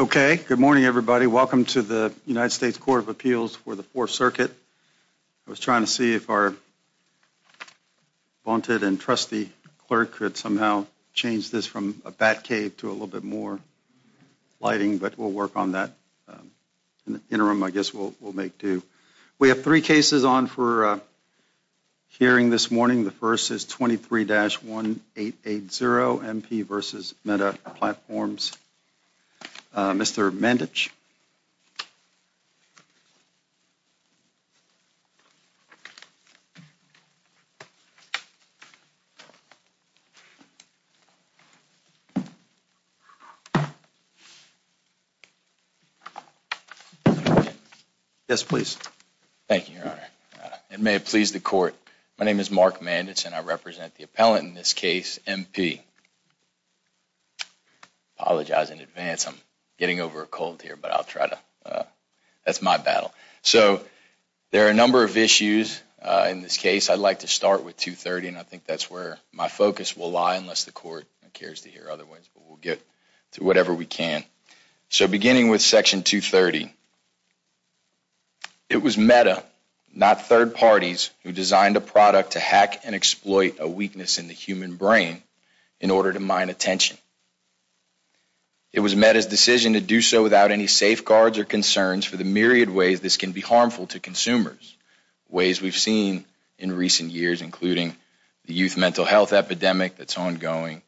Okay. Good morning, everybody. Welcome to the United States Court of Appeals for the Fourth Circuit. I was trying to see if our vaunted and trusty clerk could somehow change this from a bat cave to a little bit more lighting, but we'll work on that in the interim, I guess we'll make do. We have three cases on for hearing this morning. The first is 23-1880, M.P. v. Meta Platforms. Mr. Mandich. Yes, please. Thank you, Your Honor. And may it please the court, my name is Mark Mandich, and I represent the appellant in this case, M.P. Apologize in advance, I'm getting over a cold here, but I'll try to. That's my battle. So there are a number of issues in this case. I'd like to start with 230, and I think that's where my focus will lie, unless the court cares to hear other ways. But we'll get to whatever we can. So beginning with Section 230. It was Meta, not third parties, who designed a product to hack and exploit a weakness in the human brain in order to mine attention. It was Meta's decision to do so without any safeguards or concerns for the myriad ways this can be harmful to consumers, ways we've seen in recent years, including the youth mental health epidemic that's ongoing,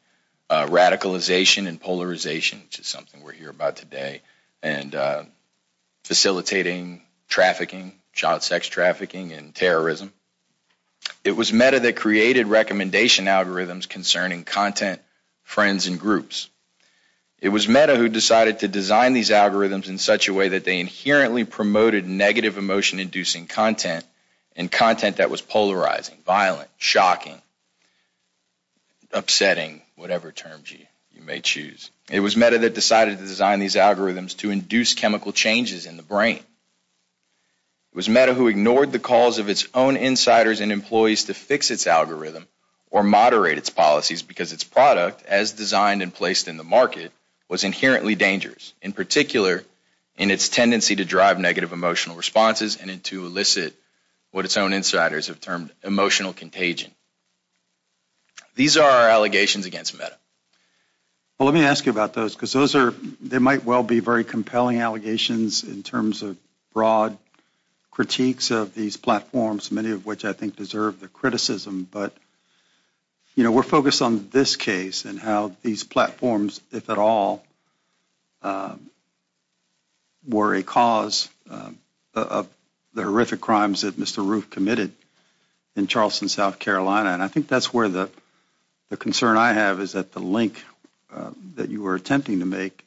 radicalization and polarization, which is something we'll hear about today, and facilitating trafficking, child sex trafficking, and terrorism. It was Meta that created recommendation algorithms concerning content, friends, and groups. It was Meta who decided to design these algorithms in such a way that they inherently promoted negative emotion-inducing content, and content that was polarizing, violent, shocking, upsetting, whatever terms you may choose. It was Meta that decided to design these algorithms to induce chemical changes in the brain. It was Meta who ignored the calls of its own insiders and employees to fix its algorithm or moderate its policies, because its product, as designed and placed in the market, was inherently dangerous, in particular in its tendency to drive negative emotional responses and to elicit what its own insiders have termed emotional contagion. These are our allegations against Meta. Well, let me ask you about those, because those are, they might well be very compelling allegations in terms of broad critiques of these platforms, many of which I think deserve the criticism, but, you know, we're focused on this case and how these platforms, if at all, were a cause of the horrific crimes that Mr. Roof committed in Charleston, South Carolina, and I think that's where the concern I have is that the link that you were attempting to make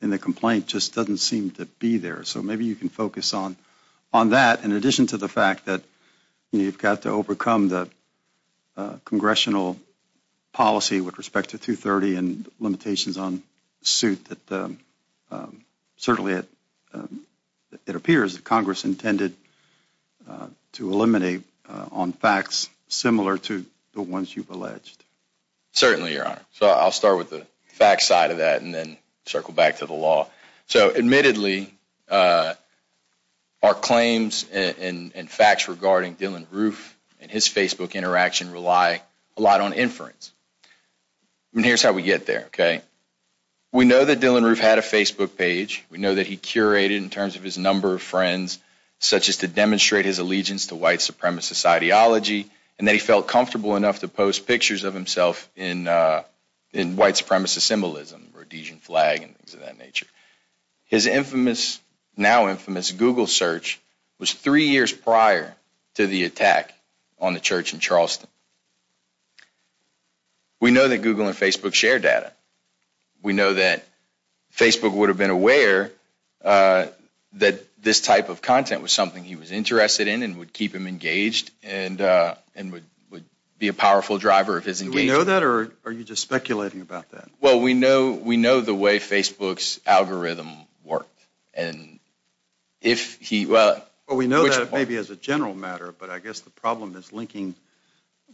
in the complaint just doesn't seem to be there, so maybe you can focus on that, in addition to the fact that you've got to overcome the congressional policy with respect to 230 and limitations on suit that certainly it appears that Congress intended to eliminate on facts similar to the ones you've alleged. Certainly, Your Honor, so I'll start with the facts side of that and then circle back to the law. So, admittedly, our claims and facts regarding Dylann Roof and his Facebook interaction rely a lot on inference. And here's how we get there, okay? We know that Dylann Roof had a Facebook page. We know that he curated in terms of his number of friends, such as to demonstrate his allegiance to white supremacist ideology, and that he felt comfortable enough to post pictures of himself in white supremacist symbolism, a Rhodesian flag and things of that nature. His infamous, now infamous, Google search was three years prior to the attack on the church in Charleston. We know that Google and Facebook share data. We know that Facebook would have been aware that this type of content was something he was interested in and would keep him engaged and would be a powerful driver of his engagement. Do we know that, or are you just speculating about that? Well, we know the way Facebook's algorithm worked. And if he, well... Well, we know that maybe as a general matter, but I guess the problem is linking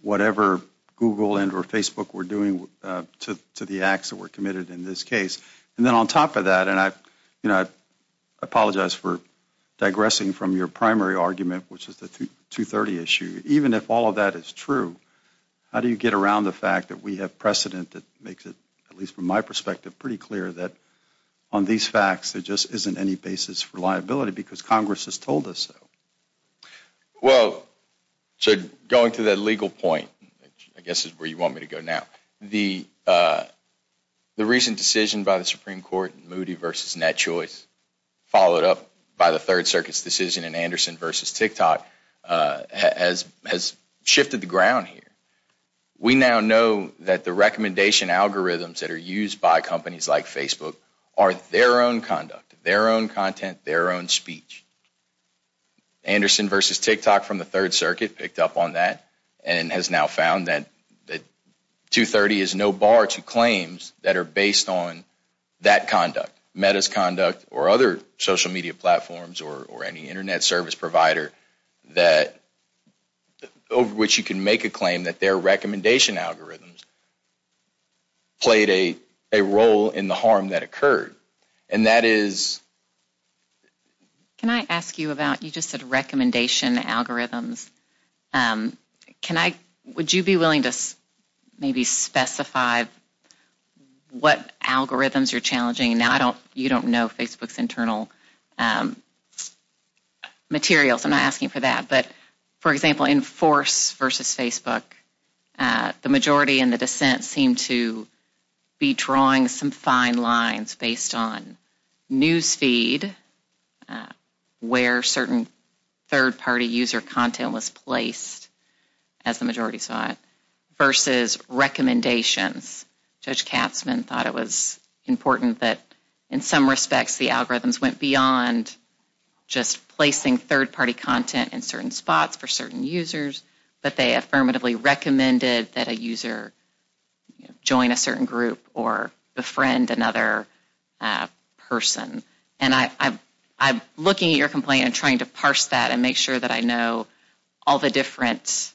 whatever Google and or Facebook were doing to the acts that were committed in this case. And then on top of that, and I apologize for digressing from your primary argument, which is the 230 issue, even if all of that is true, how do you get around the fact that we have precedent that makes it, at least from my perspective, pretty clear that on these facts, there just isn't any basis for liability because Congress has told us so? Well, so going to that legal point, which I guess is where you want me to go now, the recent decision by the Supreme Court, Moody v. Net Choice, followed up by the Third Circuit's decision in Anderson v. TikTok has shifted the ground here. We now know that the recommendation algorithms that are used by companies like Facebook are their own conduct, their own content, their own speech. Anderson v. TikTok from the Third Circuit picked up on that and has now found that 230 is no bar to claims that are based on that conduct, Meta's conduct, or other social media platforms or any Internet service provider that, over which you can make a claim that their recommendation algorithms played a role in the harm that occurred. And that is... Can I ask you about, you just said recommendation algorithms. Can I, would you be willing to maybe specify what algorithms are challenging? Now, I don't, you don't know Facebook's internal materials. I'm not asking for that, but, for example, in Force v. Facebook, the majority in the dissent seemed to be drawing some fine lines based on newsfeed, where certain third-party user content was placed, as the majority saw it, versus recommendations. Judge Katzmann thought it was important that, in some respects, the algorithms went beyond just placing third-party content in certain spots for certain users, but they affirmatively recommended that a user join a certain group or befriend another person. And I'm looking at your complaint and trying to parse that and make sure that I know all the different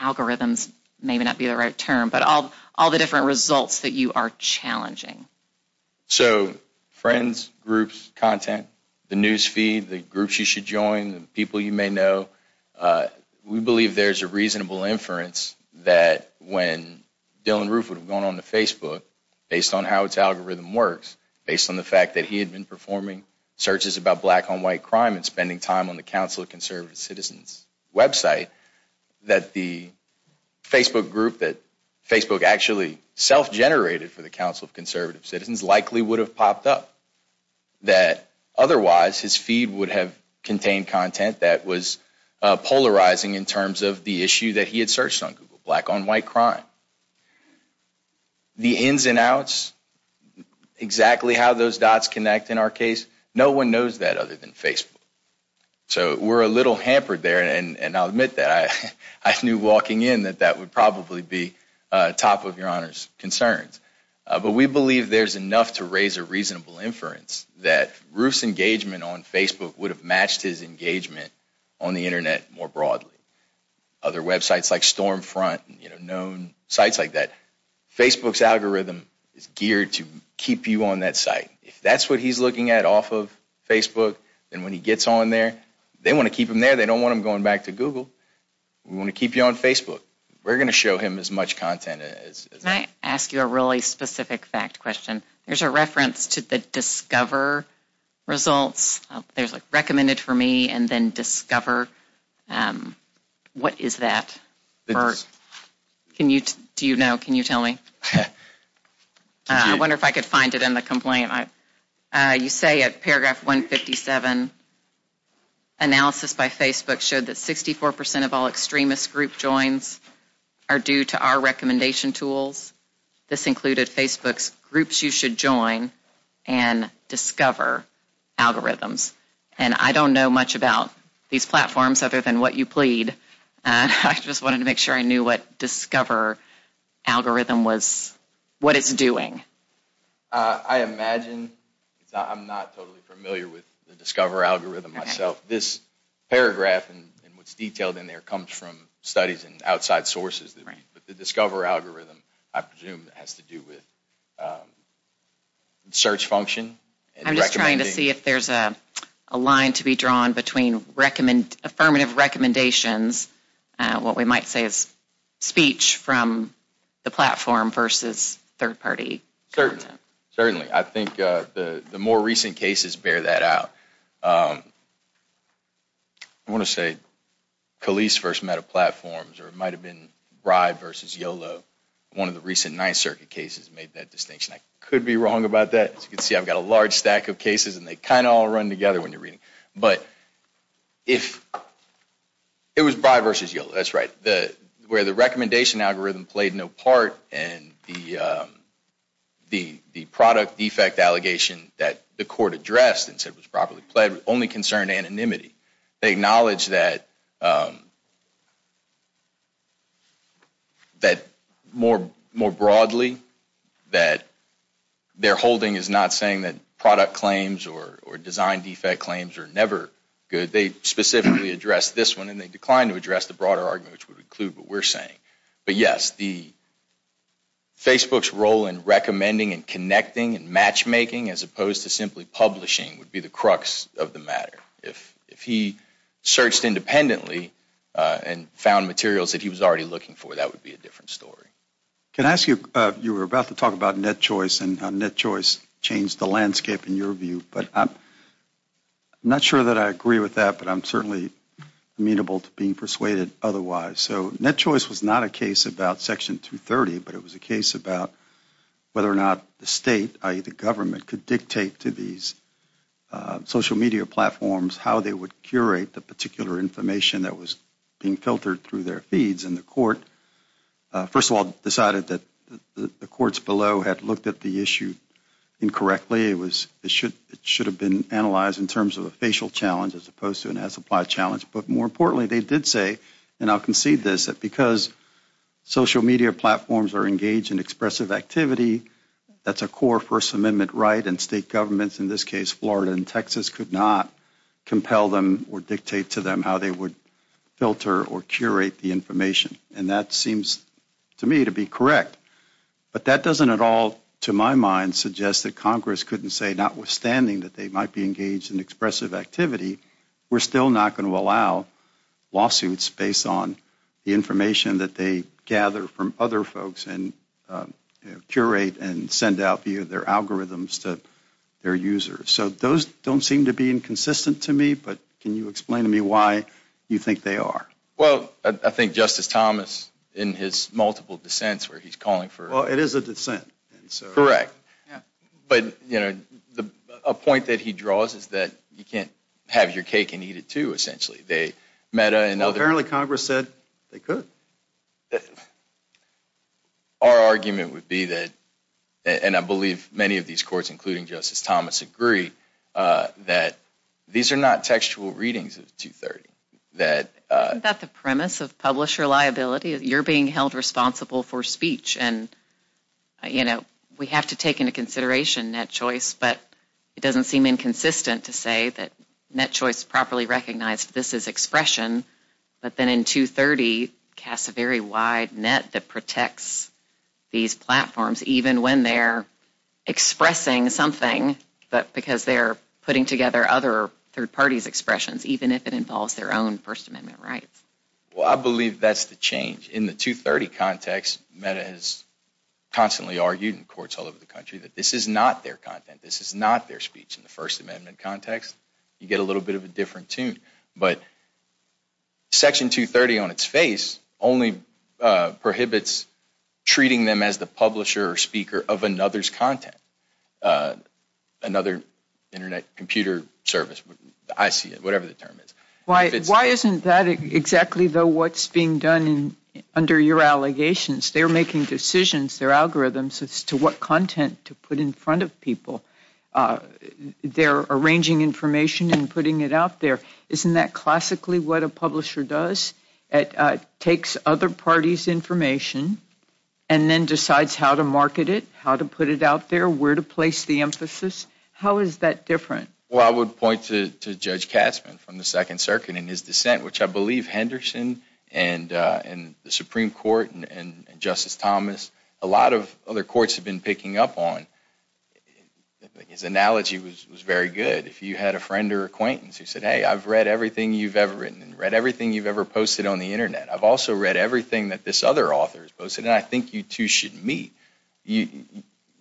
algorithms, maybe not be the right term, but all the different results that you are challenging. So, friends, groups, content, the newsfeed, the groups you should join, the people you may know, we believe there's a reasonable inference that when Dylann Roof would have gone on to Facebook, based on how its algorithm works, based on the fact that he had been performing searches about black-on-white crime and spending time on the Council of Conservative Citizens' website, that the Facebook group that Facebook actually self-generated for the Council of Conservative Citizens likely would have popped up. That, otherwise, his feed would have contained content that was polarizing in terms of the issue that he had searched on Google, black-on-white crime. The ins and outs, exactly how those dots connect in our case, no one knows that other than Facebook. So, we're a little hampered there, and I'll admit that. I knew walking in that that would probably be top of Your Honor's concerns. But we believe there's enough to raise a reasonable inference that Roof's engagement on Facebook would have matched his engagement on the Internet more broadly. Other websites like Stormfront, you know, known sites like that. Facebook's algorithm is geared to keep you on that site. If that's what he's looking at off of Facebook, then when he gets on there, they want to keep him there. They don't want him going back to Google. We want to keep you on Facebook. We're going to show him as much content as... Can I ask you a really specific fact question? There's a reference to the Discover results. There's, like, Recommended for Me and then Discover. What is that? Can you, do you know? Can you tell me? I wonder if I could find it in the complaint. You say at paragraph 157, analysis by Facebook showed that 64% of all extremist group joins are due to our recommendation tools. This included Facebook's Groups You Should Join and Discover algorithms. And I don't know much about these platforms other than what you plead. I just wanted to make sure I knew what Discover algorithm was, what it's doing. I imagine, I'm not totally familiar with the Discover algorithm myself. This paragraph and what's detailed in there comes from studies and outside sources. The Discover algorithm, I presume, has to do with search function. I'm just trying to see if there's a line to be drawn between affirmative recommendations, what we might say is speech from the platform versus third-party content. Certainly. I think the more recent cases bear that out. I want to say Khalees first met a platform, or it might have been Rye versus YOLO. One of the recent Ninth Circuit cases made that distinction. I could be wrong about that. As you can see, I've got a large stack of cases and they kind of all run together when you're reading. But if it was Rye versus YOLO, that's right. Where the recommendation algorithm played no part and the product defect allegation that the court addressed and said was properly played was only concerned anonymity. They acknowledge that more broadly that their holding is not saying that product claims or design defect claims are never good. They specifically address this one and they decline to address the broader argument which would include what we're saying. But yes, Facebook's role in recommending and connecting and matchmaking as opposed to simply publishing would be the crux of the matter. If he searched independently and found materials that he was already looking for, that would be a different story. Can I ask you, you were about to talk about net choice and how net choice changed the landscape in your view. But I'm not sure that I agree with that, but I'm certainly amenable to being persuaded otherwise. So net choice was not a case about Section 230, but it was a case about whether or not the state, i.e. the government, could dictate to these social media platforms how they would curate the particular information that was being filtered through their feeds in the court. First of all, decided that the courts below had looked at the issue incorrectly. It should have been analyzed in terms of a facial challenge as opposed to an as applied challenge. But more importantly, they did say, and I'll concede this, that because social media platforms are engaged in expressive activity, that's a core First Amendment right, and state governments, in this case Florida and Texas, could not compel them or dictate to them how they would filter or curate the information, and that seems to me to be correct. But that doesn't at all, to my mind, suggest that Congress couldn't say, notwithstanding that they might be engaged in expressive activity, we're still not going to allow lawsuits based on the information that they gather from other folks and curate and send out via their algorithms to their users. So those don't seem to be inconsistent to me, but can you explain to me why you think they are? Well, I think Justice Thomas, in his multiple dissents where he's calling for. Well, it is a dissent. Correct. But, you know, a point that he draws is that you can't have your cake and eat it, too, essentially. They met another. Apparently Congress said they could. Our argument would be that, and I believe many of these courts, including Justice Thomas, agree that these are not textual readings of 230, that. Isn't that the premise of publisher liability? You're being held responsible for speech. And, you know, we have to take into consideration that choice. But it doesn't seem inconsistent to say that that choice is properly recognized. This is expression. But then in 230 casts a very wide net that protects these platforms, even when they're expressing something, but because they're putting together other third parties' expressions, even if it involves their own First Amendment rights. Well, I believe that's the change. In the 230 context, Meta has constantly argued in courts all over the country that this is not their content. This is not their speech. In the First Amendment context, you get a little bit of a different tune. But Section 230 on its face only prohibits treating them as the publisher or speaker of another's content, another Internet computer service, IC, whatever the term is. Why isn't that exactly, though, what's being done under your allegations? They're making decisions. They're algorithms as to what content to put in front of people. They're arranging information and putting it out there. Isn't that classically what a publisher does? It takes other parties' information and then decides how to market it, how to put it out there, where to place the emphasis? How is that different? Well, I would point to Judge Katzmann from the Second Circuit and his dissent, which I believe Henderson and the Supreme Court and Justice Thomas, a lot of other courts have been picking up on. His analogy was very good. If you had a friend or acquaintance who said, hey, I've read everything you've ever written, read everything you've ever posted on the Internet. I've also read everything that this other author has posted, and I think you two should meet. You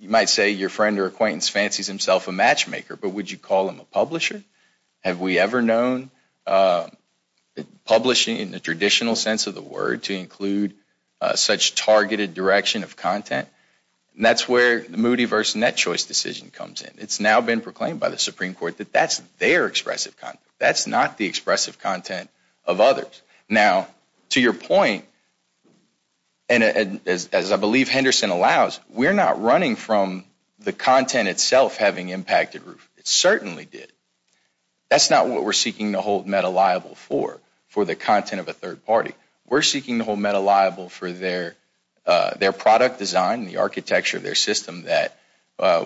might say your friend or acquaintance fancies himself a matchmaker, but would you call him a publisher? Have we ever known publishing in the traditional sense of the word to include such targeted direction of content? And that's where the Moody versus Net Choice decision comes in. It's now been proclaimed by the Supreme Court that that's their expressive content. That's not the expressive content of others. Now, to your point, and as I believe Henderson allows, we're not running from the content itself having impacted Roof. It certainly did. That's not what we're seeking to hold Meta liable for, for the content of a third party. We're seeking to hold Meta liable for their product design, the architecture of their system that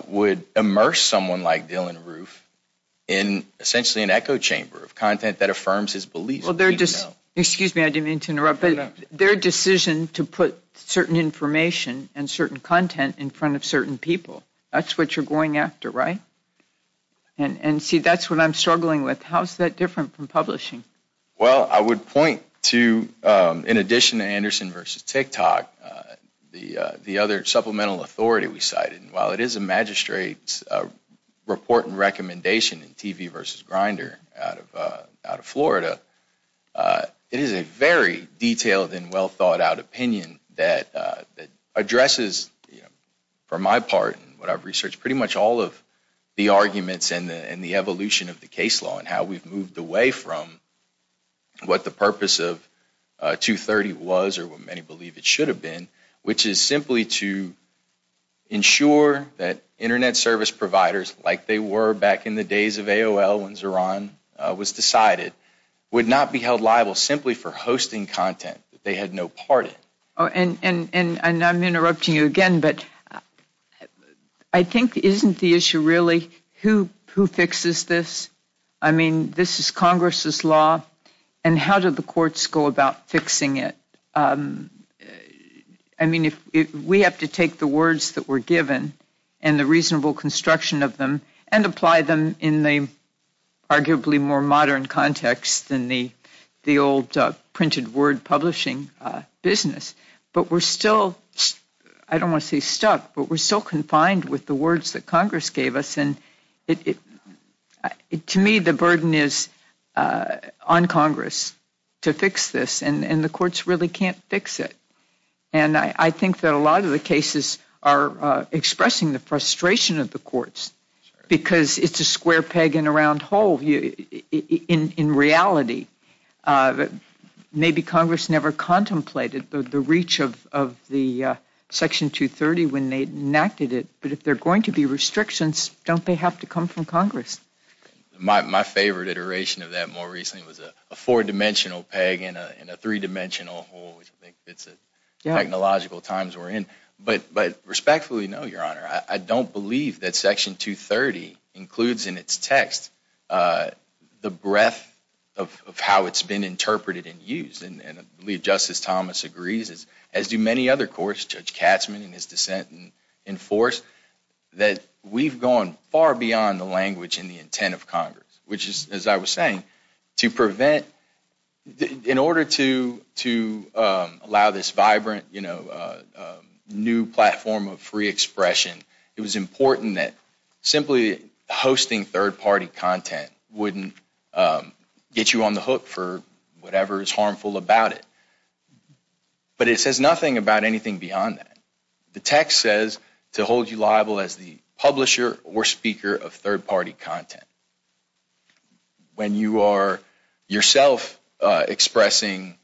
would immerse someone like Dylann Roof in essentially an echo chamber of content that affirms his beliefs. Excuse me. I didn't mean to interrupt, but their decision to put certain information and certain content in front of certain people, that's what you're going after, right? And see, that's what I'm struggling with. How's that different from publishing? Well, I would point to, in addition to Anderson versus TikTok, the other supplemental authority we cited, and while it is a magistrate's report and recommendation in TV versus Grindr out of Florida, it is a very detailed and well-thought-out opinion that addresses, you know, for my part and what I've researched, pretty much all of the arguments and the evolution of the case law and how we've moved away from what the purpose of 230 was or what many believe it should have been, which is simply to ensure that Internet service providers, like they were back in the days of AOL when Zeron was decided, would not be held liable simply for hosting content that they had no part in. And I'm interrupting you again, but I think isn't the issue really who fixes this? I mean, this is Congress's law, and how do the courts go about fixing it? I mean, we have to take the words that were given and the reasonable construction of them and apply them in the arguably more modern context than the old printed word publishing business. But we're still, I don't want to say stuck, but we're still confined with the words that Congress gave us, and to me, the burden is on Congress to fix this, and the courts really can't fix it. And I think that a lot of the cases are expressing the frustration of the courts because it's a square peg in a round hole in reality. Maybe Congress never contemplated the reach of the Section 230 when they enacted it, but if there are going to be restrictions, don't they have to come from Congress? My favorite iteration of that more recently was a four-dimensional peg in a three-dimensional hole, which I think fits the technological times we're in. But respectfully, no, Your Honor. I don't believe that Section 230 includes in its text the breadth of how it's been interpreted and used, and I believe Justice Thomas agrees, as do many other courts, Judge Katzman in his dissent and in force, that we've gone far beyond the language and the intent of Congress, which is, as I was saying, to prevent, in order to allow this vibrant, you know, new platform of free expression, it was important that simply hosting third-party content wouldn't get you on the hook for whatever is harmful about it. But it says nothing about anything beyond that. The text says to hold you liable as the publisher or speaker of third-party content. When you are yourself expressing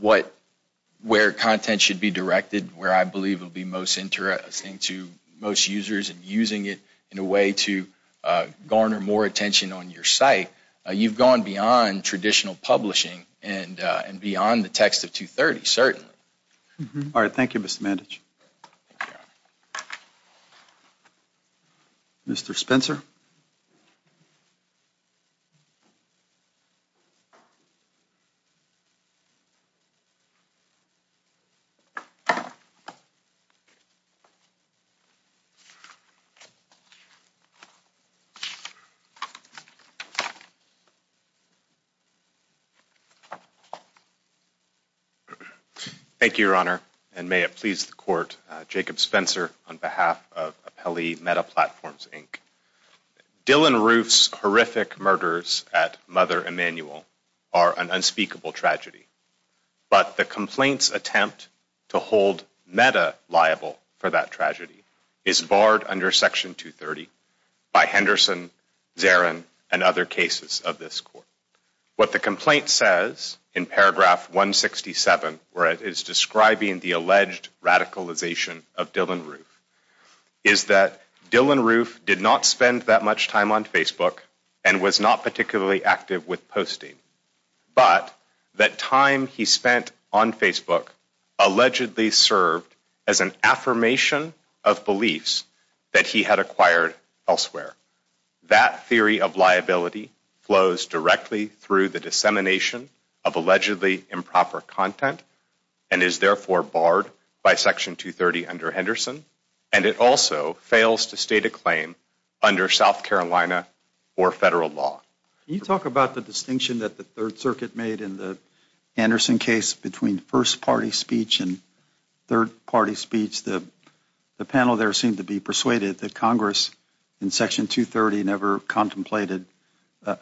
what, where content should be directed, where I believe will be most interesting to most users and using it in a way to garner more attention on your site, you've gone beyond traditional publishing and beyond the text of 230, certainly. All right, thank you, Mr. Mandich. Mr. Spencer? Thank you, Your Honor, and may it please the Court, Jacob Spencer on behalf of Appellee Meta Platforms, Inc. Dylan Roof's horrific murders at Mother Emanuel are an unspeakable tragedy. But the complaint's attempt to hold Meta liable for that tragedy is barred under Section 230 by Henderson, Zarin, and other cases of this Court. What the complaint says in paragraph 167, where it is describing the alleged radicalization of Dylan Roof, is that Dylan Roof did not spend that much time on Facebook and was not particularly active with posting. But that time he spent on Facebook allegedly served as an affirmation of beliefs that he had acquired elsewhere. That theory of liability flows directly through the dissemination of allegedly improper content and is therefore barred by Section 230 under Henderson, and it also fails to state a claim under South Carolina or federal law. Can you talk about the distinction that the Third Circuit made in the Henderson case between first-party speech and third-party speech? The panel there seemed to be persuaded that Congress, in Section 230, never contemplated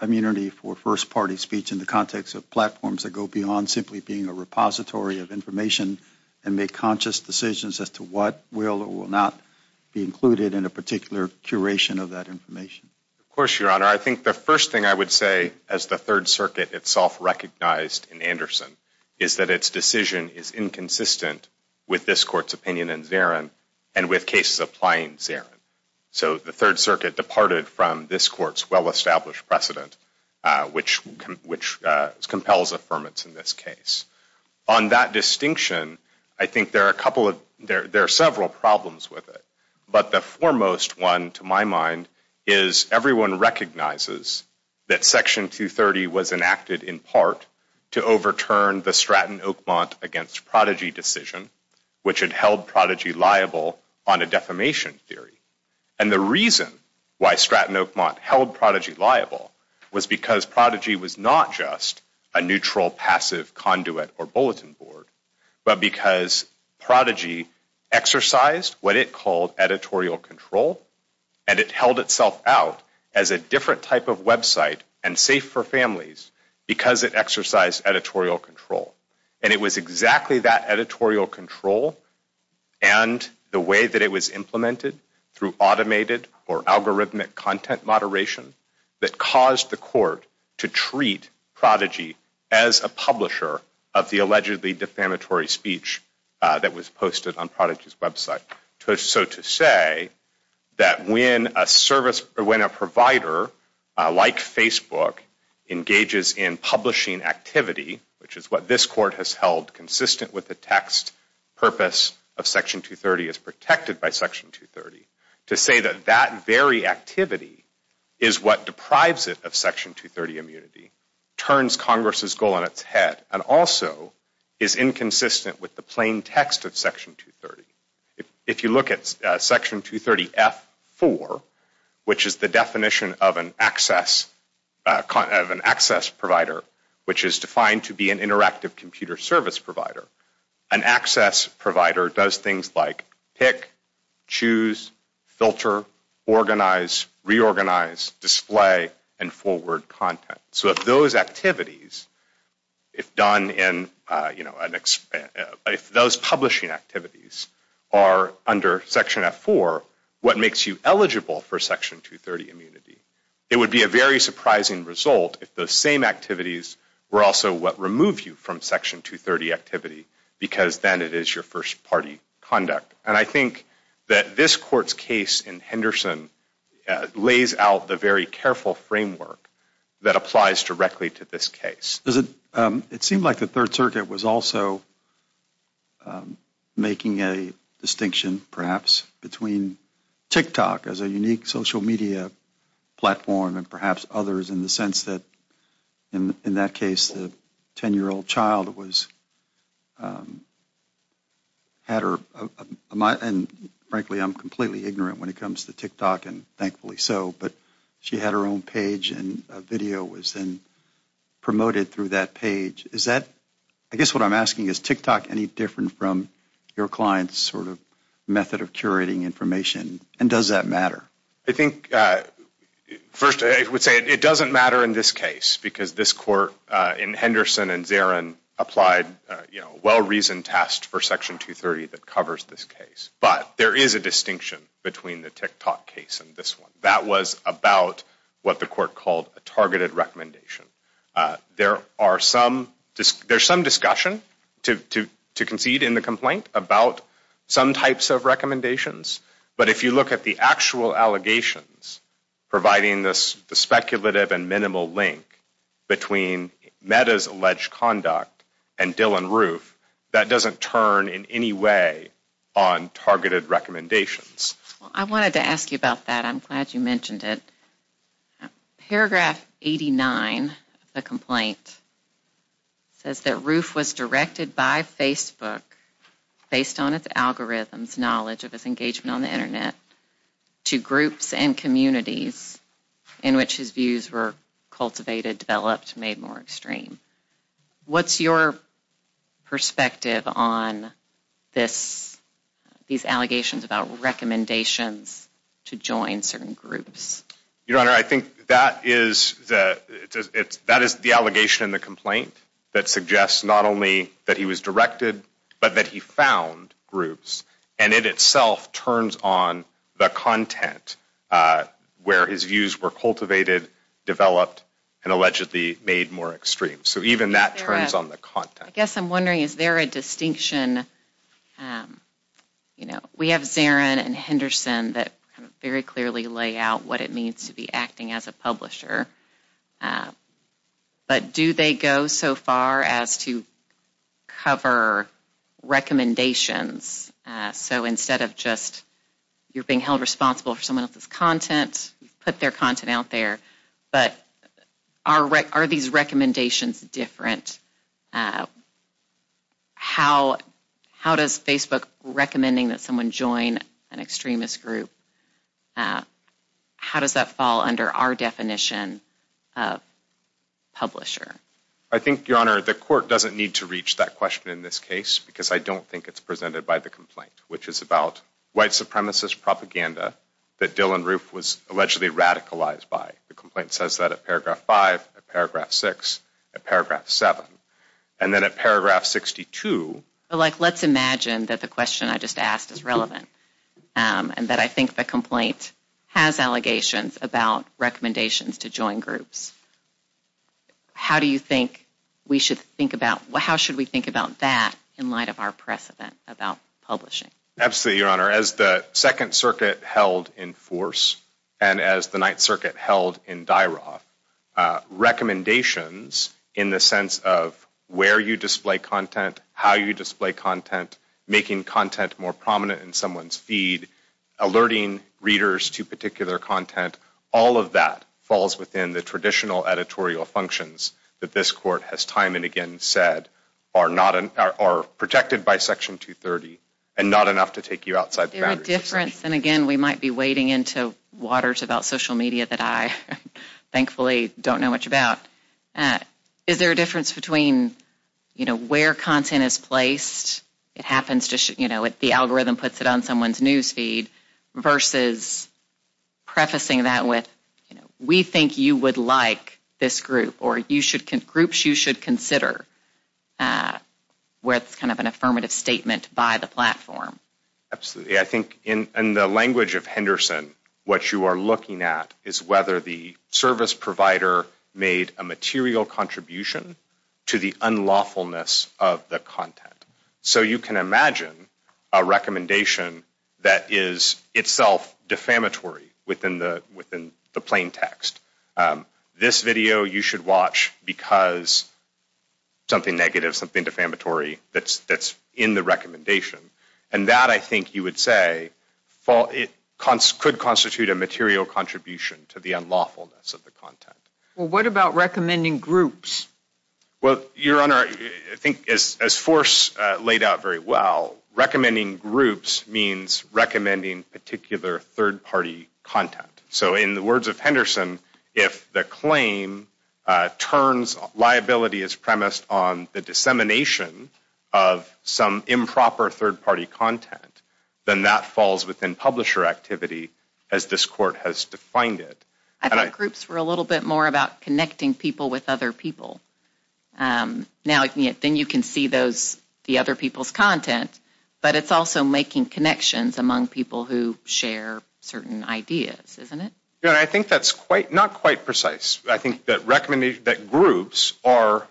immunity for first-party speech in the context of platforms that go beyond simply being a repository of information and make conscious decisions as to what will or will not be included in a particular curation of that information. Of course, Your Honor. I think the first thing I would say, as the Third Circuit itself recognized in Anderson, is that its decision is inconsistent with this Court's opinion in Zarin and with cases applying Zarin. So the Third Circuit departed from this Court's well-established precedent, which compels affirmance in this case. On that distinction, I think there are several problems with it. But the foremost one, to my mind, is everyone recognizes that Section 230 was enacted in part to overturn the Stratton-Oakmont against Prodigy decision, which had held Prodigy liable on a defamation theory. And the reason why Stratton-Oakmont held Prodigy liable was because Prodigy was not just a neutral passive conduit or bulletin board, but because Prodigy exercised what it called editorial control, and it held itself out as a different type of website and safe for families because it exercised editorial control. And it was exactly that editorial control and the way that it was implemented through automated or algorithmic content moderation that caused the Court to treat Prodigy as a publisher of the allegedly defamatory speech that was posted on Prodigy's website. So to say that when a provider like Facebook engages in publishing activity, which is what this Court has held consistent with the text purpose of Section 230 as protected by Section 230, to say that that very activity is what deprives it of Section 230 immunity turns Congress' goal in its head, and also is inconsistent with the plain text of Section 230. If you look at Section 230 F4, which is the definition of an access provider, which is defined to be an interactive computer service provider, an access provider does things like pick, choose, filter, organize, reorganize, display, and forward content. So if those activities, if those publishing activities are under Section F4, what makes you eligible for Section 230 immunity? It would be a very surprising result if those same activities were also what removed you from Section 230 activity because then it is your first party conduct. And I think that this Court's case in Henderson lays out the very careful framework that applies directly to this case. It seemed like the Third Circuit was also making a distinction, perhaps, between TikTok as a unique social media platform and perhaps others in the sense that in that case the 10-year-old child had her, and frankly I'm completely ignorant when it comes to TikTok and thankfully so, but she had her own page and a video was then promoted through that page. Is that, I guess what I'm asking, is TikTok any different from your client's sort of method of curating information and does that matter? I think, first, I would say it doesn't matter in this case because this Court in Henderson and Zarin applied a well-reasoned test for Section 230 that covers this case. But there is a distinction between the TikTok case and this one. That was about what the Court called a targeted recommendation. There's some discussion to concede in the complaint about some types of recommendations, but if you look at the actual allegations providing the speculative and minimal link between Meta's alleged conduct and Dylann Roof, that doesn't turn in any way on targeted recommendations. I wanted to ask you about that. I'm glad you mentioned it. Paragraph 89 of the complaint says that Roof was directed by Facebook based on its algorithms, knowledge of its engagement on the Internet, to groups and communities in which his views were cultivated, developed, made more extreme. What's your perspective on these allegations about recommendations to join certain groups? Your Honor, I think that is the allegation in the complaint that suggests not only that he was directed, but that he found groups, and it itself turns on the content where his views were cultivated, developed, and allegedly made more extreme. So even that turns on the content. I guess I'm wondering, is there a distinction? We have Zarin and Henderson that very clearly lay out what it means to be acting as a publisher, but do they go so far as to cover recommendations? So instead of just you're being held responsible for someone else's content, you put their content out there. But are these recommendations different? How does Facebook recommending that someone join an extremist group, how does that fall under our definition of publisher? I think, Your Honor, the court doesn't need to reach that question in this case because I don't think it's presented by the complaint, which is about white supremacist propaganda that Dylann Roof was allegedly radicalized by. The complaint says that at paragraph 5, at paragraph 6, at paragraph 7. And then at paragraph 62. Let's imagine that the question I just asked is relevant and that I think the complaint has allegations about recommendations to join groups. How do you think we should think about, how should we think about that in light of our precedent about publishing? Absolutely, Your Honor. As the Second Circuit held in Force and as the Ninth Circuit held in Dyroff, recommendations in the sense of where you display content, how you display content, making content more prominent in someone's feed, alerting readers to particular content, all of that falls within the traditional editorial functions that this court has time and again said are protected by Section 230 and not enough to take you outside the boundaries. Is there a difference? And again, we might be wading into waters about social media that I thankfully don't know much about. Is there a difference between where content is placed? It happens, the algorithm puts it on someone's news feed versus prefacing that with, we think you would like this group or groups you should consider where it's kind of an affirmative statement by the platform. Absolutely. I think in the language of Henderson, what you are looking at is whether the service provider made a material contribution to the unlawfulness of the content. So you can imagine a recommendation that is itself defamatory within the plain text. This video you should watch because something negative, something defamatory that's in the recommendation. And that, I think you would say, could constitute a material contribution to the unlawfulness of the content. Well, what about recommending groups? Well, Your Honor, I think as Force laid out very well, recommending groups means recommending particular third-party content. So in the words of Henderson, if the claim turns liability as premised on the dissemination of some improper third-party content, then that falls within publisher activity as this Court has defined it. I thought groups were a little bit more about connecting people with other people. Then you can see the other people's content, but it's also making connections among people who share certain ideas, isn't it? Your Honor, I think that's not quite precise. I think that groups are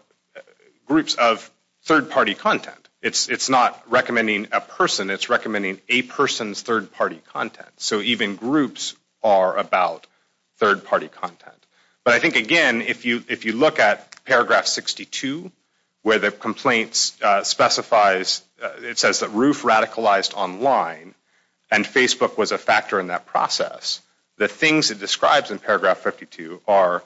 groups of third-party content. It's not recommending a person. It's recommending a person's third-party content. So even groups are about third-party content. But I think, again, if you look at paragraph 62 where the complaint specifies, it says that Roof radicalized online and Facebook was a factor in that process. The things it describes in paragraph 52 are,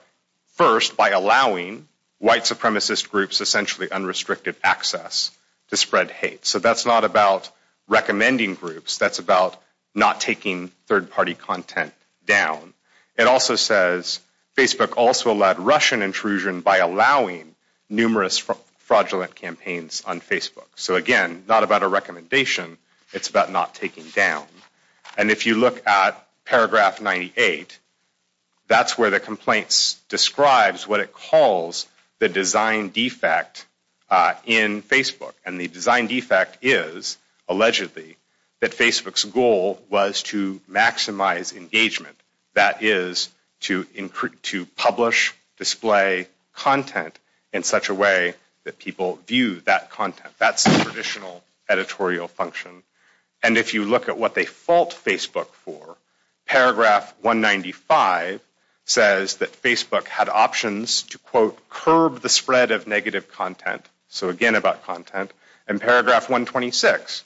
first, by allowing white supremacist groups essentially unrestricted access to spread hate. So that's not about recommending groups. That's about not taking third-party content down. It also says Facebook also led Russian intrusion by allowing numerous fraudulent campaigns on Facebook. So again, not about a recommendation. It's about not taking down. And if you look at paragraph 98, that's where the complaint describes what it calls the design defect in Facebook. And the design defect is, allegedly, that Facebook's goal was to maximize engagement. That is to publish, display content in such a way that people view that content. That's the traditional editorial function. And if you look at what they fault Facebook for, paragraph 195 says that Facebook had options to, quote, curb the spread of negative content. So again, about content. And paragraph 126,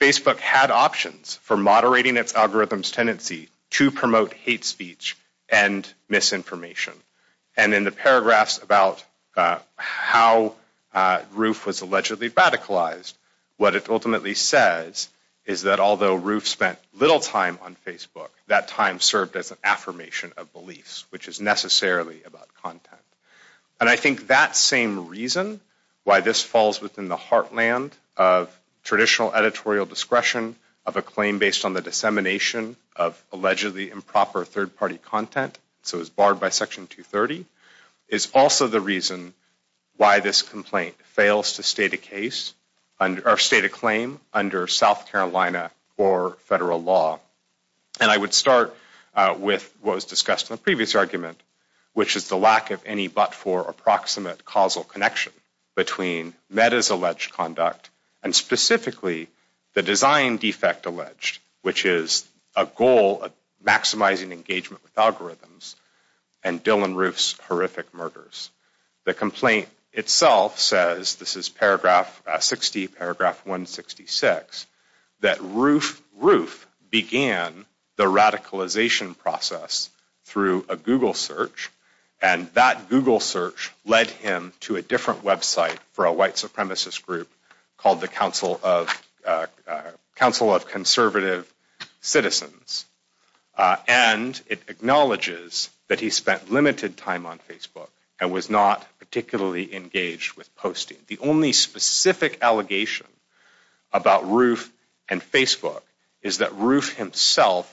Facebook had options for moderating its algorithm's tendency to promote hate speech and misinformation. And in the paragraphs about how Roof was allegedly radicalized, what it ultimately says is that although Roof spent little time on Facebook, that time served as an affirmation of beliefs, which is necessarily about content. And I think that same reason why this falls within the heartland of traditional editorial discretion of a claim based on the dissemination of allegedly improper third-party content, so it's barred by section 230, is also the reason why this complaint fails to state a claim under South Carolina or federal law. And I would start with what was discussed in the previous argument, which is the lack of any but for approximate causal connection between Meta's alleged conduct, and specifically the design defect alleged, which is a goal of maximizing engagement with algorithms, and Dylan Roof's horrific murders. The complaint itself says, this is paragraph 60, paragraph 166, that Roof began the radicalization process through a Google search. And that Google search led him to a different website for a white supremacist group called the Council of Conservative Citizens. And it acknowledges that he spent limited time on Facebook and was not particularly engaged with posting. The only specific allegation about Roof and Facebook is that Roof himself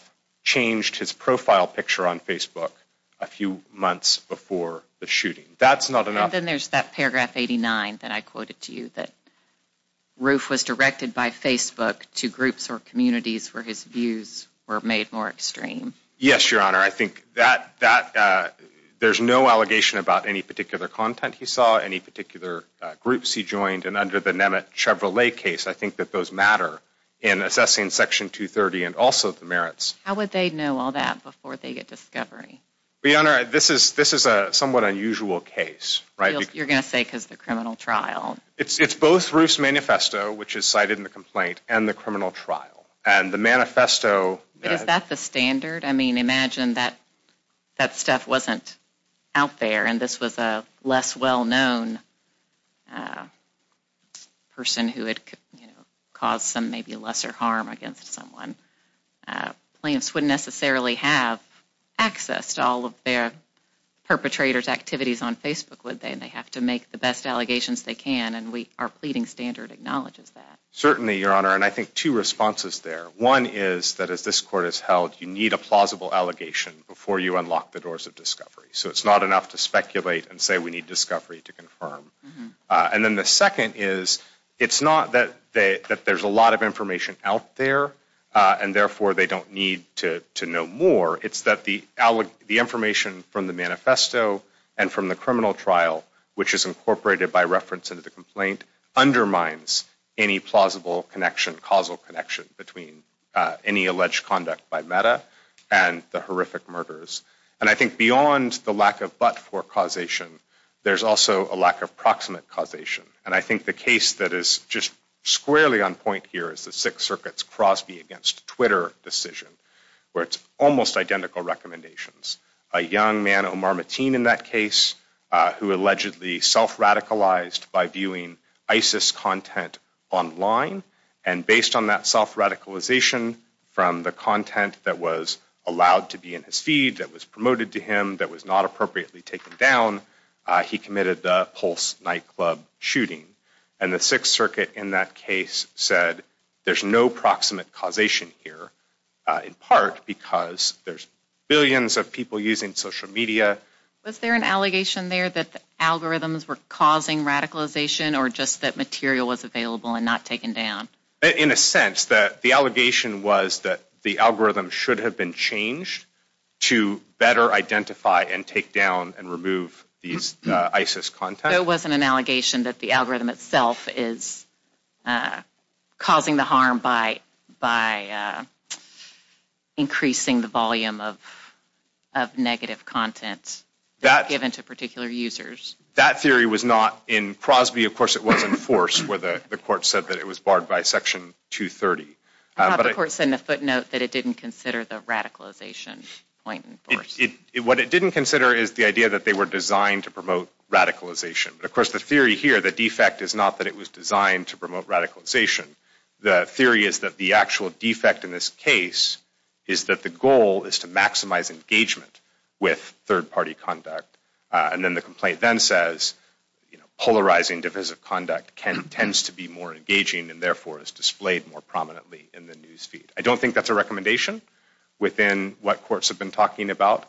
changed his profile picture on Facebook a few months before the shooting. That's not enough. And then there's that paragraph 89 that I quoted to you, that Roof was directed by Facebook to groups or communities where his views were made more extreme. Yes, Your Honor. I think that there's no allegation about any particular content he saw, any particular groups he joined. And under the Nemet Chevrolet case, I think that those matter in assessing Section 230 and also the merits. How would they know all that before they get discovery? Your Honor, this is a somewhat unusual case. You're going to say because the criminal trial. It's both Roof's manifesto, which is cited in the complaint, and the criminal trial. And the manifesto... Is that the standard? I mean, imagine that stuff wasn't out there and this was a less well-known person who had caused some maybe lesser harm against someone. Plaintiffs wouldn't necessarily have access to all of their perpetrators' activities on Facebook, would they? And they have to make the best allegations they can, and our pleading standard acknowledges that. Certainly, Your Honor, and I think two responses there. One is that as this Court has held, you need a plausible allegation before you unlock the doors of discovery. So it's not enough to speculate and say, we need discovery to confirm. And then the second is, it's not that there's a lot of information out there, and therefore they don't need to know more. It's that the information from the manifesto and from the criminal trial, which is incorporated by reference into the complaint, undermines any plausible connection, causal connection, between any alleged conduct by Mehta and the horrific murders. And I think beyond the lack of but-for causation, there's also a lack of proximate causation. And I think the case that is just squarely on point here is the Sixth Circuit's Crosby against Twitter decision, where it's almost identical recommendations. A young man, Omar Mateen in that case, who allegedly self-radicalized by viewing ISIS content online. And based on that self-radicalization from the content that was allowed to be in his feed, that was promoted to him, that was not appropriately taken down, he committed the Pulse nightclub shooting. And the Sixth Circuit in that case said, there's no proximate causation here, in part because there's billions of people using social media. Was there an allegation there that the algorithms were causing radicalization, or just that material was available and not taken down? In a sense, the allegation was that the algorithm should have been changed to better identify and take down and remove these ISIS content. There wasn't an allegation that the algorithm itself is causing the harm by increasing the volume of negative content that's given to particular users. That theory was not in Prosby. Of course, it was in Force, where the court said that it was barred by Section 230. The court said in a footnote that it didn't consider the radicalization point in Force. What it didn't consider is the idea that they were designed to promote radicalization. Of course, the theory here, the defect, is not that it was designed to promote radicalization. The theory is that the actual defect in this case is that the goal is to maximize engagement with third-party conduct. Then the complaint then says, polarizing divisive conduct tends to be more engaging and therefore is displayed more prominently in the news feed. I don't think that's a recommendation within what courts have been talking about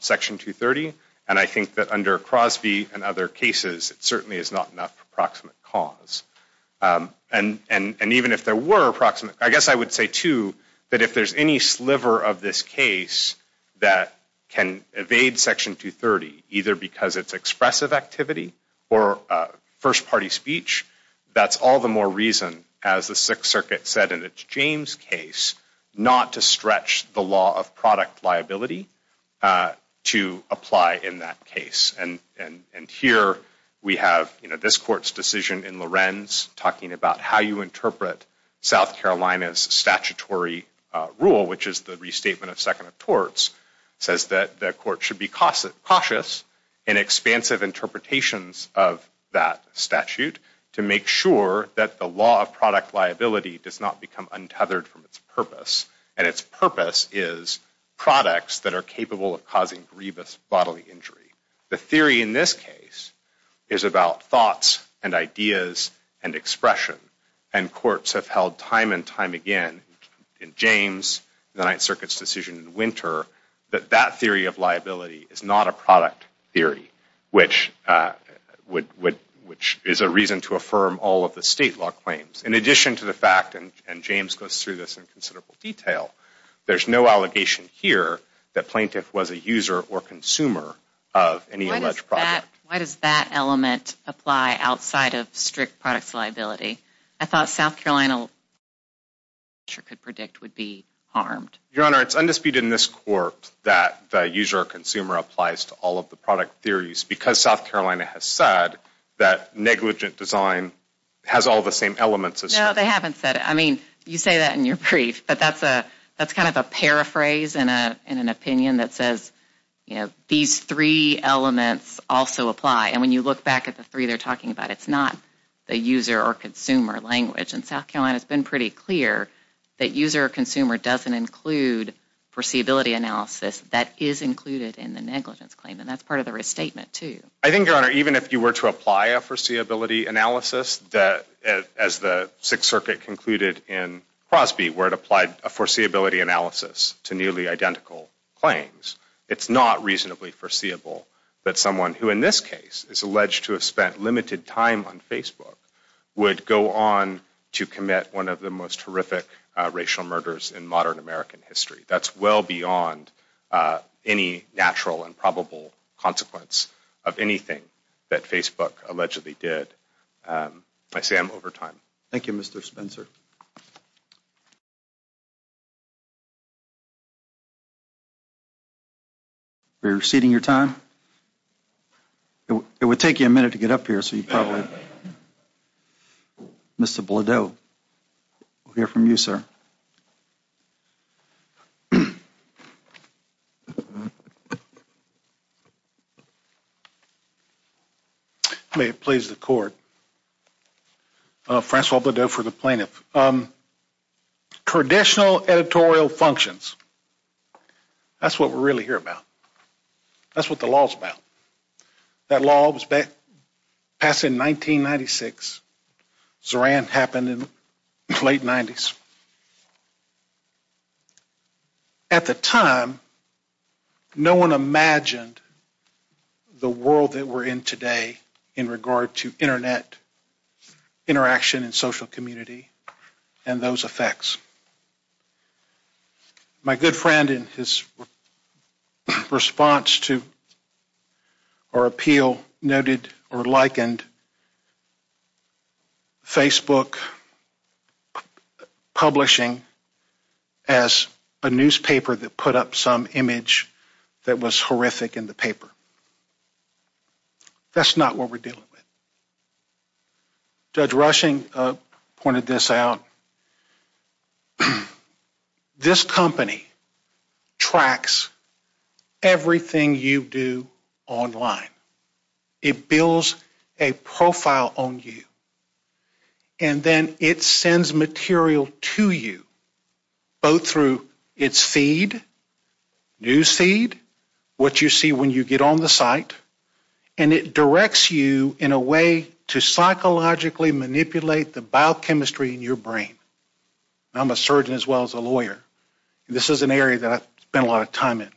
Section 230. I think that under Prosby and other cases, it certainly is not enough for proximate cause. I guess I would say, too, that if there's any sliver of this case that can evade Section 230, either because it's expressive activity or first-party speech, that's all the more reason, as the Sixth Circuit said in its James case, not to stretch the law of product liability to apply in that case. Here, we have this court's decision in Lorenz talking about how you interpret South Carolina's statutory rule, which is the restatement of second of torts, says that the court should be cautious in expansive interpretations of that statute to make sure that the law of product liability does not become untethered from its purpose, and its purpose is products that are capable of causing grievous bodily injury. The theory in this case is about thoughts and ideas and expression, and courts have held time and time again in James, the Ninth Circuit's decision in Winter, that that theory of liability is not a product theory, which is a reason to affirm all of the state law claims. In addition to the fact, and James goes through this in considerable detail, there's no allegation here that plaintiff was a user or consumer of any alleged product. Why does that element apply outside of strict products liability? I thought South Carolina could predict would be harmed. Your Honor, it's undisputed in this court that the user or consumer applies to all of the product theories because South Carolina has said that negligent design has all the same elements. No, they haven't said it. I mean, you say that in your brief, but that's kind of a paraphrase in an opinion that says, you know, these three elements also apply, and when you look back at the three they're talking about, it's not the user or consumer language, and South Carolina's been pretty clear that user or consumer doesn't include foreseeability analysis that is included in the negligence claim, and that's part of the restatement too. I think, Your Honor, even if you were to apply a foreseeability analysis as the Sixth Circuit concluded in Crosby where it applied a foreseeability analysis to nearly identical claims, it's not reasonably foreseeable that someone who in this case is alleged to have spent limited time on Facebook would go on to commit one of the most horrific racial murders in modern American history. That's well beyond any natural and probable consequence of anything that Facebook allegedly did. I say I'm over time. Thank you, Mr. Spencer. Are you receding your time? It would take you a minute to get up here, so you probably... Mr. Bledoe. We'll hear from you, sir. May it please the Court. Francois Bledoe for the plaintiff. Traditional editorial functions. That's what we're really here about. That's what the law's about. That law was passed in 1996. Zoran happened in the late 90s. At the time, no one imagined the world that we're in today in regard to Internet interaction and social community and those effects. My good friend, in his response to our appeal, noted or likened Facebook publishing as a newspaper that put up some image that was horrific in the paper. That's not what we're dealing with. Judge Rushing pointed this out. This company tracks everything you do online. It builds a profile on you. And then it sends material to you, both through its feed, news feed, what you see when you get on the site, and it directs you in a way to psychologically manipulate the biochemistry in your brain. I'm a surgeon as well as a lawyer. This is an area that I've spent a lot of time in.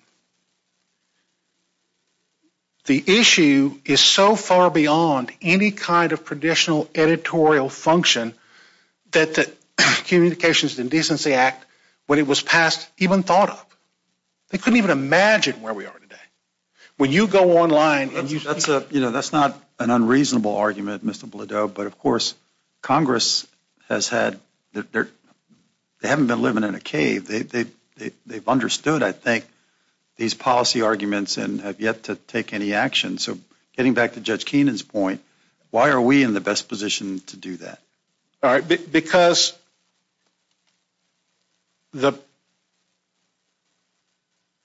The issue is so far beyond any kind of traditional editorial function that the Communications Indecency Act, when it was passed, even thought of. They couldn't even imagine where we are today. When you go online... That's not an unreasonable argument, Mr. Blodeau, but, of course, Congress has had... They haven't been living in a cave. They've understood, I think, these policy arguments and have yet to take any action. So getting back to Judge Keenan's point, why are we in the best position to do that? Because...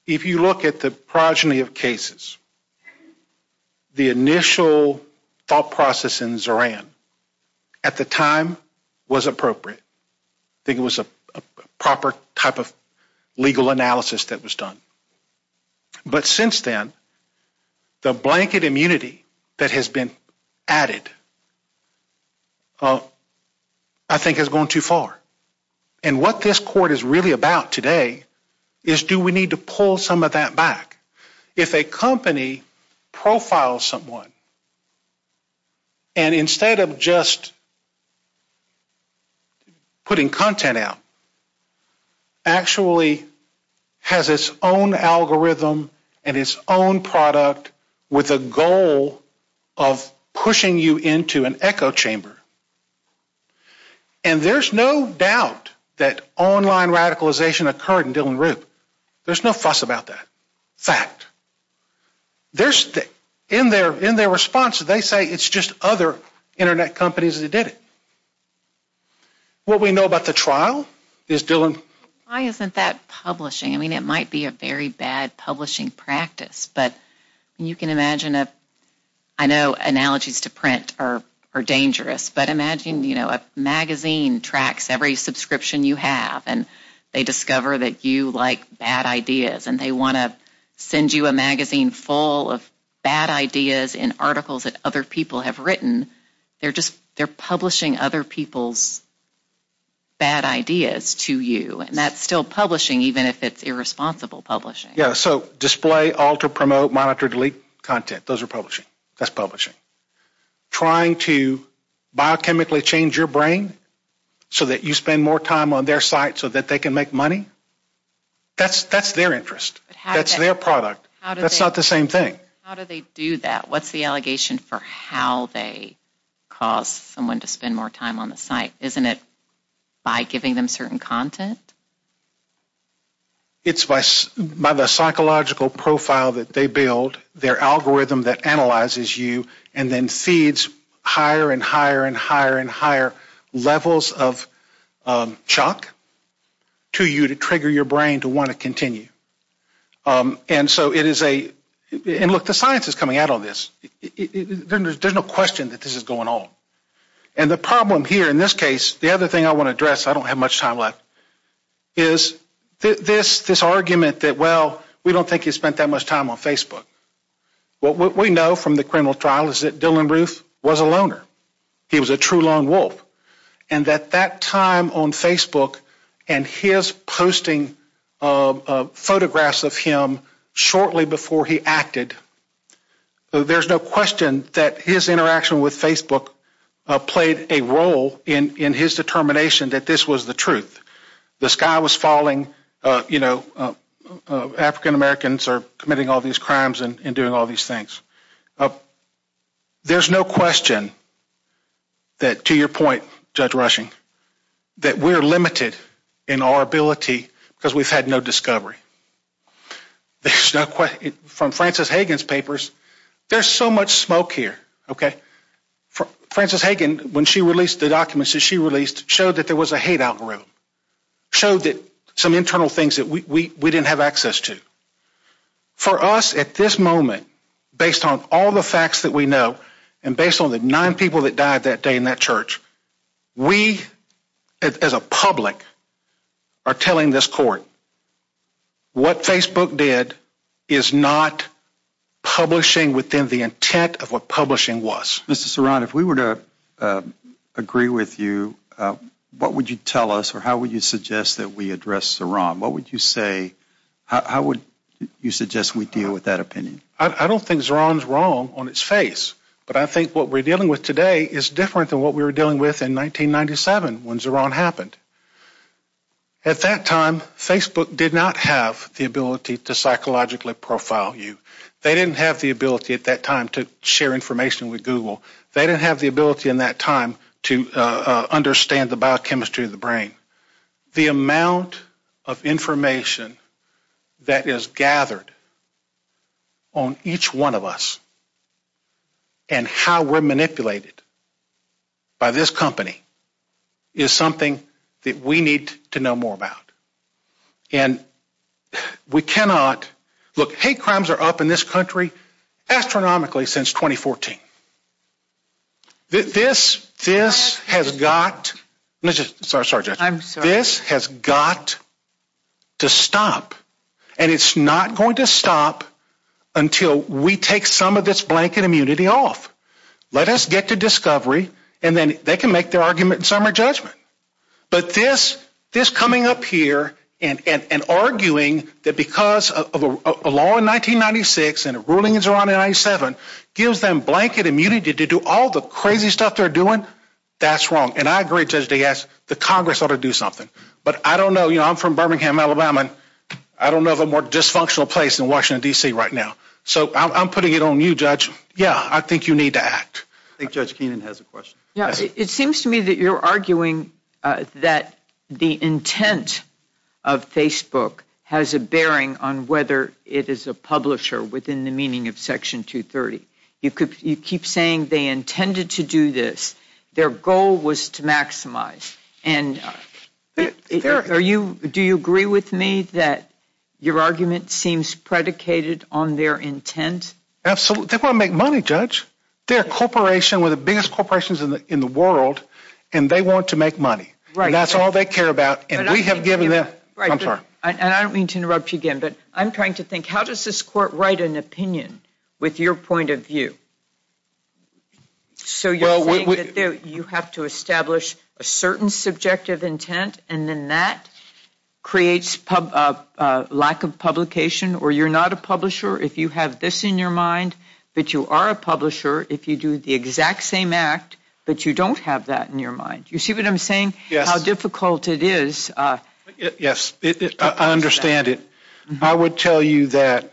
If you look at the progeny of cases, the initial thought process in Zoran, at the time, was appropriate. I think it was a proper type of legal analysis that was done. But since then, the blanket immunity that has been added, I think, has gone too far. And what this court is really about today is do we need to pull some of that back? If a company profiles someone and instead of just putting content out, actually has its own algorithm and its own product with a goal of pushing you into an echo chamber and there's no doubt that online radicalization occurred in Dylann Roop, there's no fuss about that. Fact. In their response, they say it's just other internet companies that did it. What we know about the trial is Dylann... Why isn't that publishing? I mean, it might be a very bad publishing practice, but you can imagine... I know analogies to print are dangerous, but imagine a magazine tracks every subscription you have and they discover that you like bad ideas and they want to send you a magazine full of bad ideas in articles that other people have written. They're publishing other people's bad ideas to you and that's still publishing, even if it's irresponsible publishing. Yeah, so display, alter, promote, monitor, delete content. Those are publishing. That's publishing. Trying to biochemically change your brain so that you spend more time on their site so that they can make money? That's their interest. That's their product. That's not the same thing. How do they do that? What's the allegation for how they cause someone to spend more time on the site? Isn't it by giving them certain content? It's by the psychological profile that they build, their algorithm that analyzes you and then feeds higher and higher and higher and higher levels of chalk to you to trigger your brain to want to continue. And so it is a... And look, the science is coming out on this. There's no question that this is going on. And the problem here in this case, the other thing I want to address, I don't have much time left, is this argument that, well, we don't think he spent that much time on Facebook. What we know from the criminal trial is that Dylann Roof was a loner. He was a true lone wolf. And at that time on Facebook and his posting photographs of him shortly before he acted, there's no question that his interaction with Facebook played a role in his determination that this was the truth. The sky was falling. African-Americans are committing all these crimes and doing all these things. There's no question that, to your point, Judge Rushing, that we're limited in our ability because we've had no discovery. There's no question. From Frances Hagan's papers, there's so much smoke here. Frances Hagan, when she released the documents that she released, showed that there was a hate algorithm, showed some internal things that we didn't have access to. For us, at this moment, based on all the facts that we know and based on the nine people that died that day in that church, we, as a public, are telling this court what Facebook did is not publishing within the intent of what publishing was. Mr. Zerron, if we were to agree with you, what would you tell us or how would you suggest that we address Zerron? What would you say? How would you suggest we deal with that opinion? I don't think Zerron's wrong on its face, but I think what we're dealing with today is different than what we were dealing with in 1997 when Zerron happened. At that time, Facebook did not have the ability to psychologically profile you. They didn't have the ability at that time to share information with Google. They didn't have the ability in that time to understand the biochemistry of the brain. The amount of information that is gathered on each one of us and how we're manipulated by this company is something that we need to know more about. And we cannot... Look, hate crimes are up in this country astronomically since 2014. This has got... Sorry, Judge. This has got to stop. And it's not going to stop until we take some of this blanket immunity off. Let us get to discovery, and then they can make their argument and some of their judgment. But this coming up here and arguing that because of a law in 1996 and a ruling in Zerron in 1997 gives them blanket immunity to do all the crazy stuff they're doing, that's wrong. And I agree, Judge DeGasse, that Congress ought to do something. But I don't know. I'm from Birmingham, Alabama, and I don't know of a more dysfunctional place than Washington, D.C. right now. So I'm putting it on you, Judge. Yeah, I think you need to act. I think Judge Keenan has a question. It seems to me that you're arguing that the intent of Facebook has a bearing on whether it is a publisher within the meaning of Section 230. You keep saying they intended to do this. Their goal was to maximize. And do you agree with me that your argument seems predicated on their intent? Absolutely. They want to make money, Judge. They're a corporation, one of the biggest corporations in the world, and they want to make money. And that's all they care about, and we have given them... And I don't mean to interrupt you again, but I'm trying to think, how does this court write an opinion with your point of view? So you're saying that you have to establish a certain subjective intent, and then that creates lack of publication, or you're not a publisher if you have this in your mind, but you are a publisher if you do the exact same act, but you don't have that in your mind. You see what I'm saying? Yes. How difficult it is. Yes, I understand it. I would tell you that,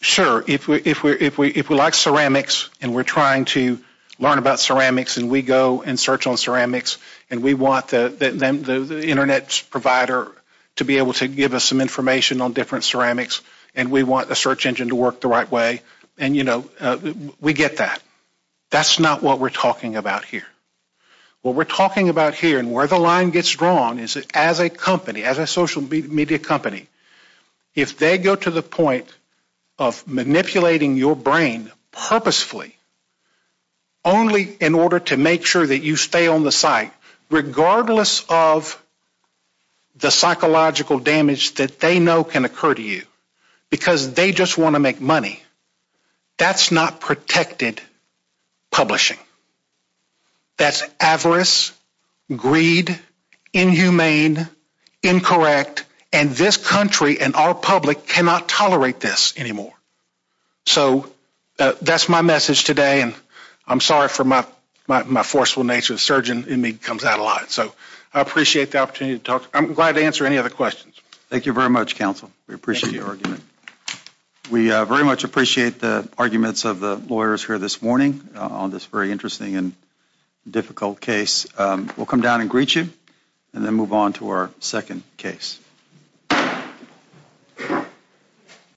sure, if we like ceramics and we're trying to learn about ceramics and we go and search on ceramics and we want the Internet provider to be able to give us some information on different ceramics and we want the search engine to work the right way, and, you know, we get that. That's not what we're talking about here. What we're talking about here and where the line gets drawn is as a company, as a social media company, if they go to the point of manipulating your brain purposefully only in order to make sure that you stay on the site, regardless of the psychological damage that they know can occur to you because they just want to make money, that's not protected publishing. That's avarice, greed, inhumane, incorrect, and this country and our public cannot tolerate this anymore. So that's my message today and I'm sorry for my forceful nature. The surgeon in me comes out a lot. So I appreciate the opportunity to talk. I'm glad to answer any other questions. Thank you very much, counsel. We appreciate your argument. We very much appreciate the arguments of the lawyers here this morning on this very interesting and difficult case. We'll come down and greet you and then move on to our second case.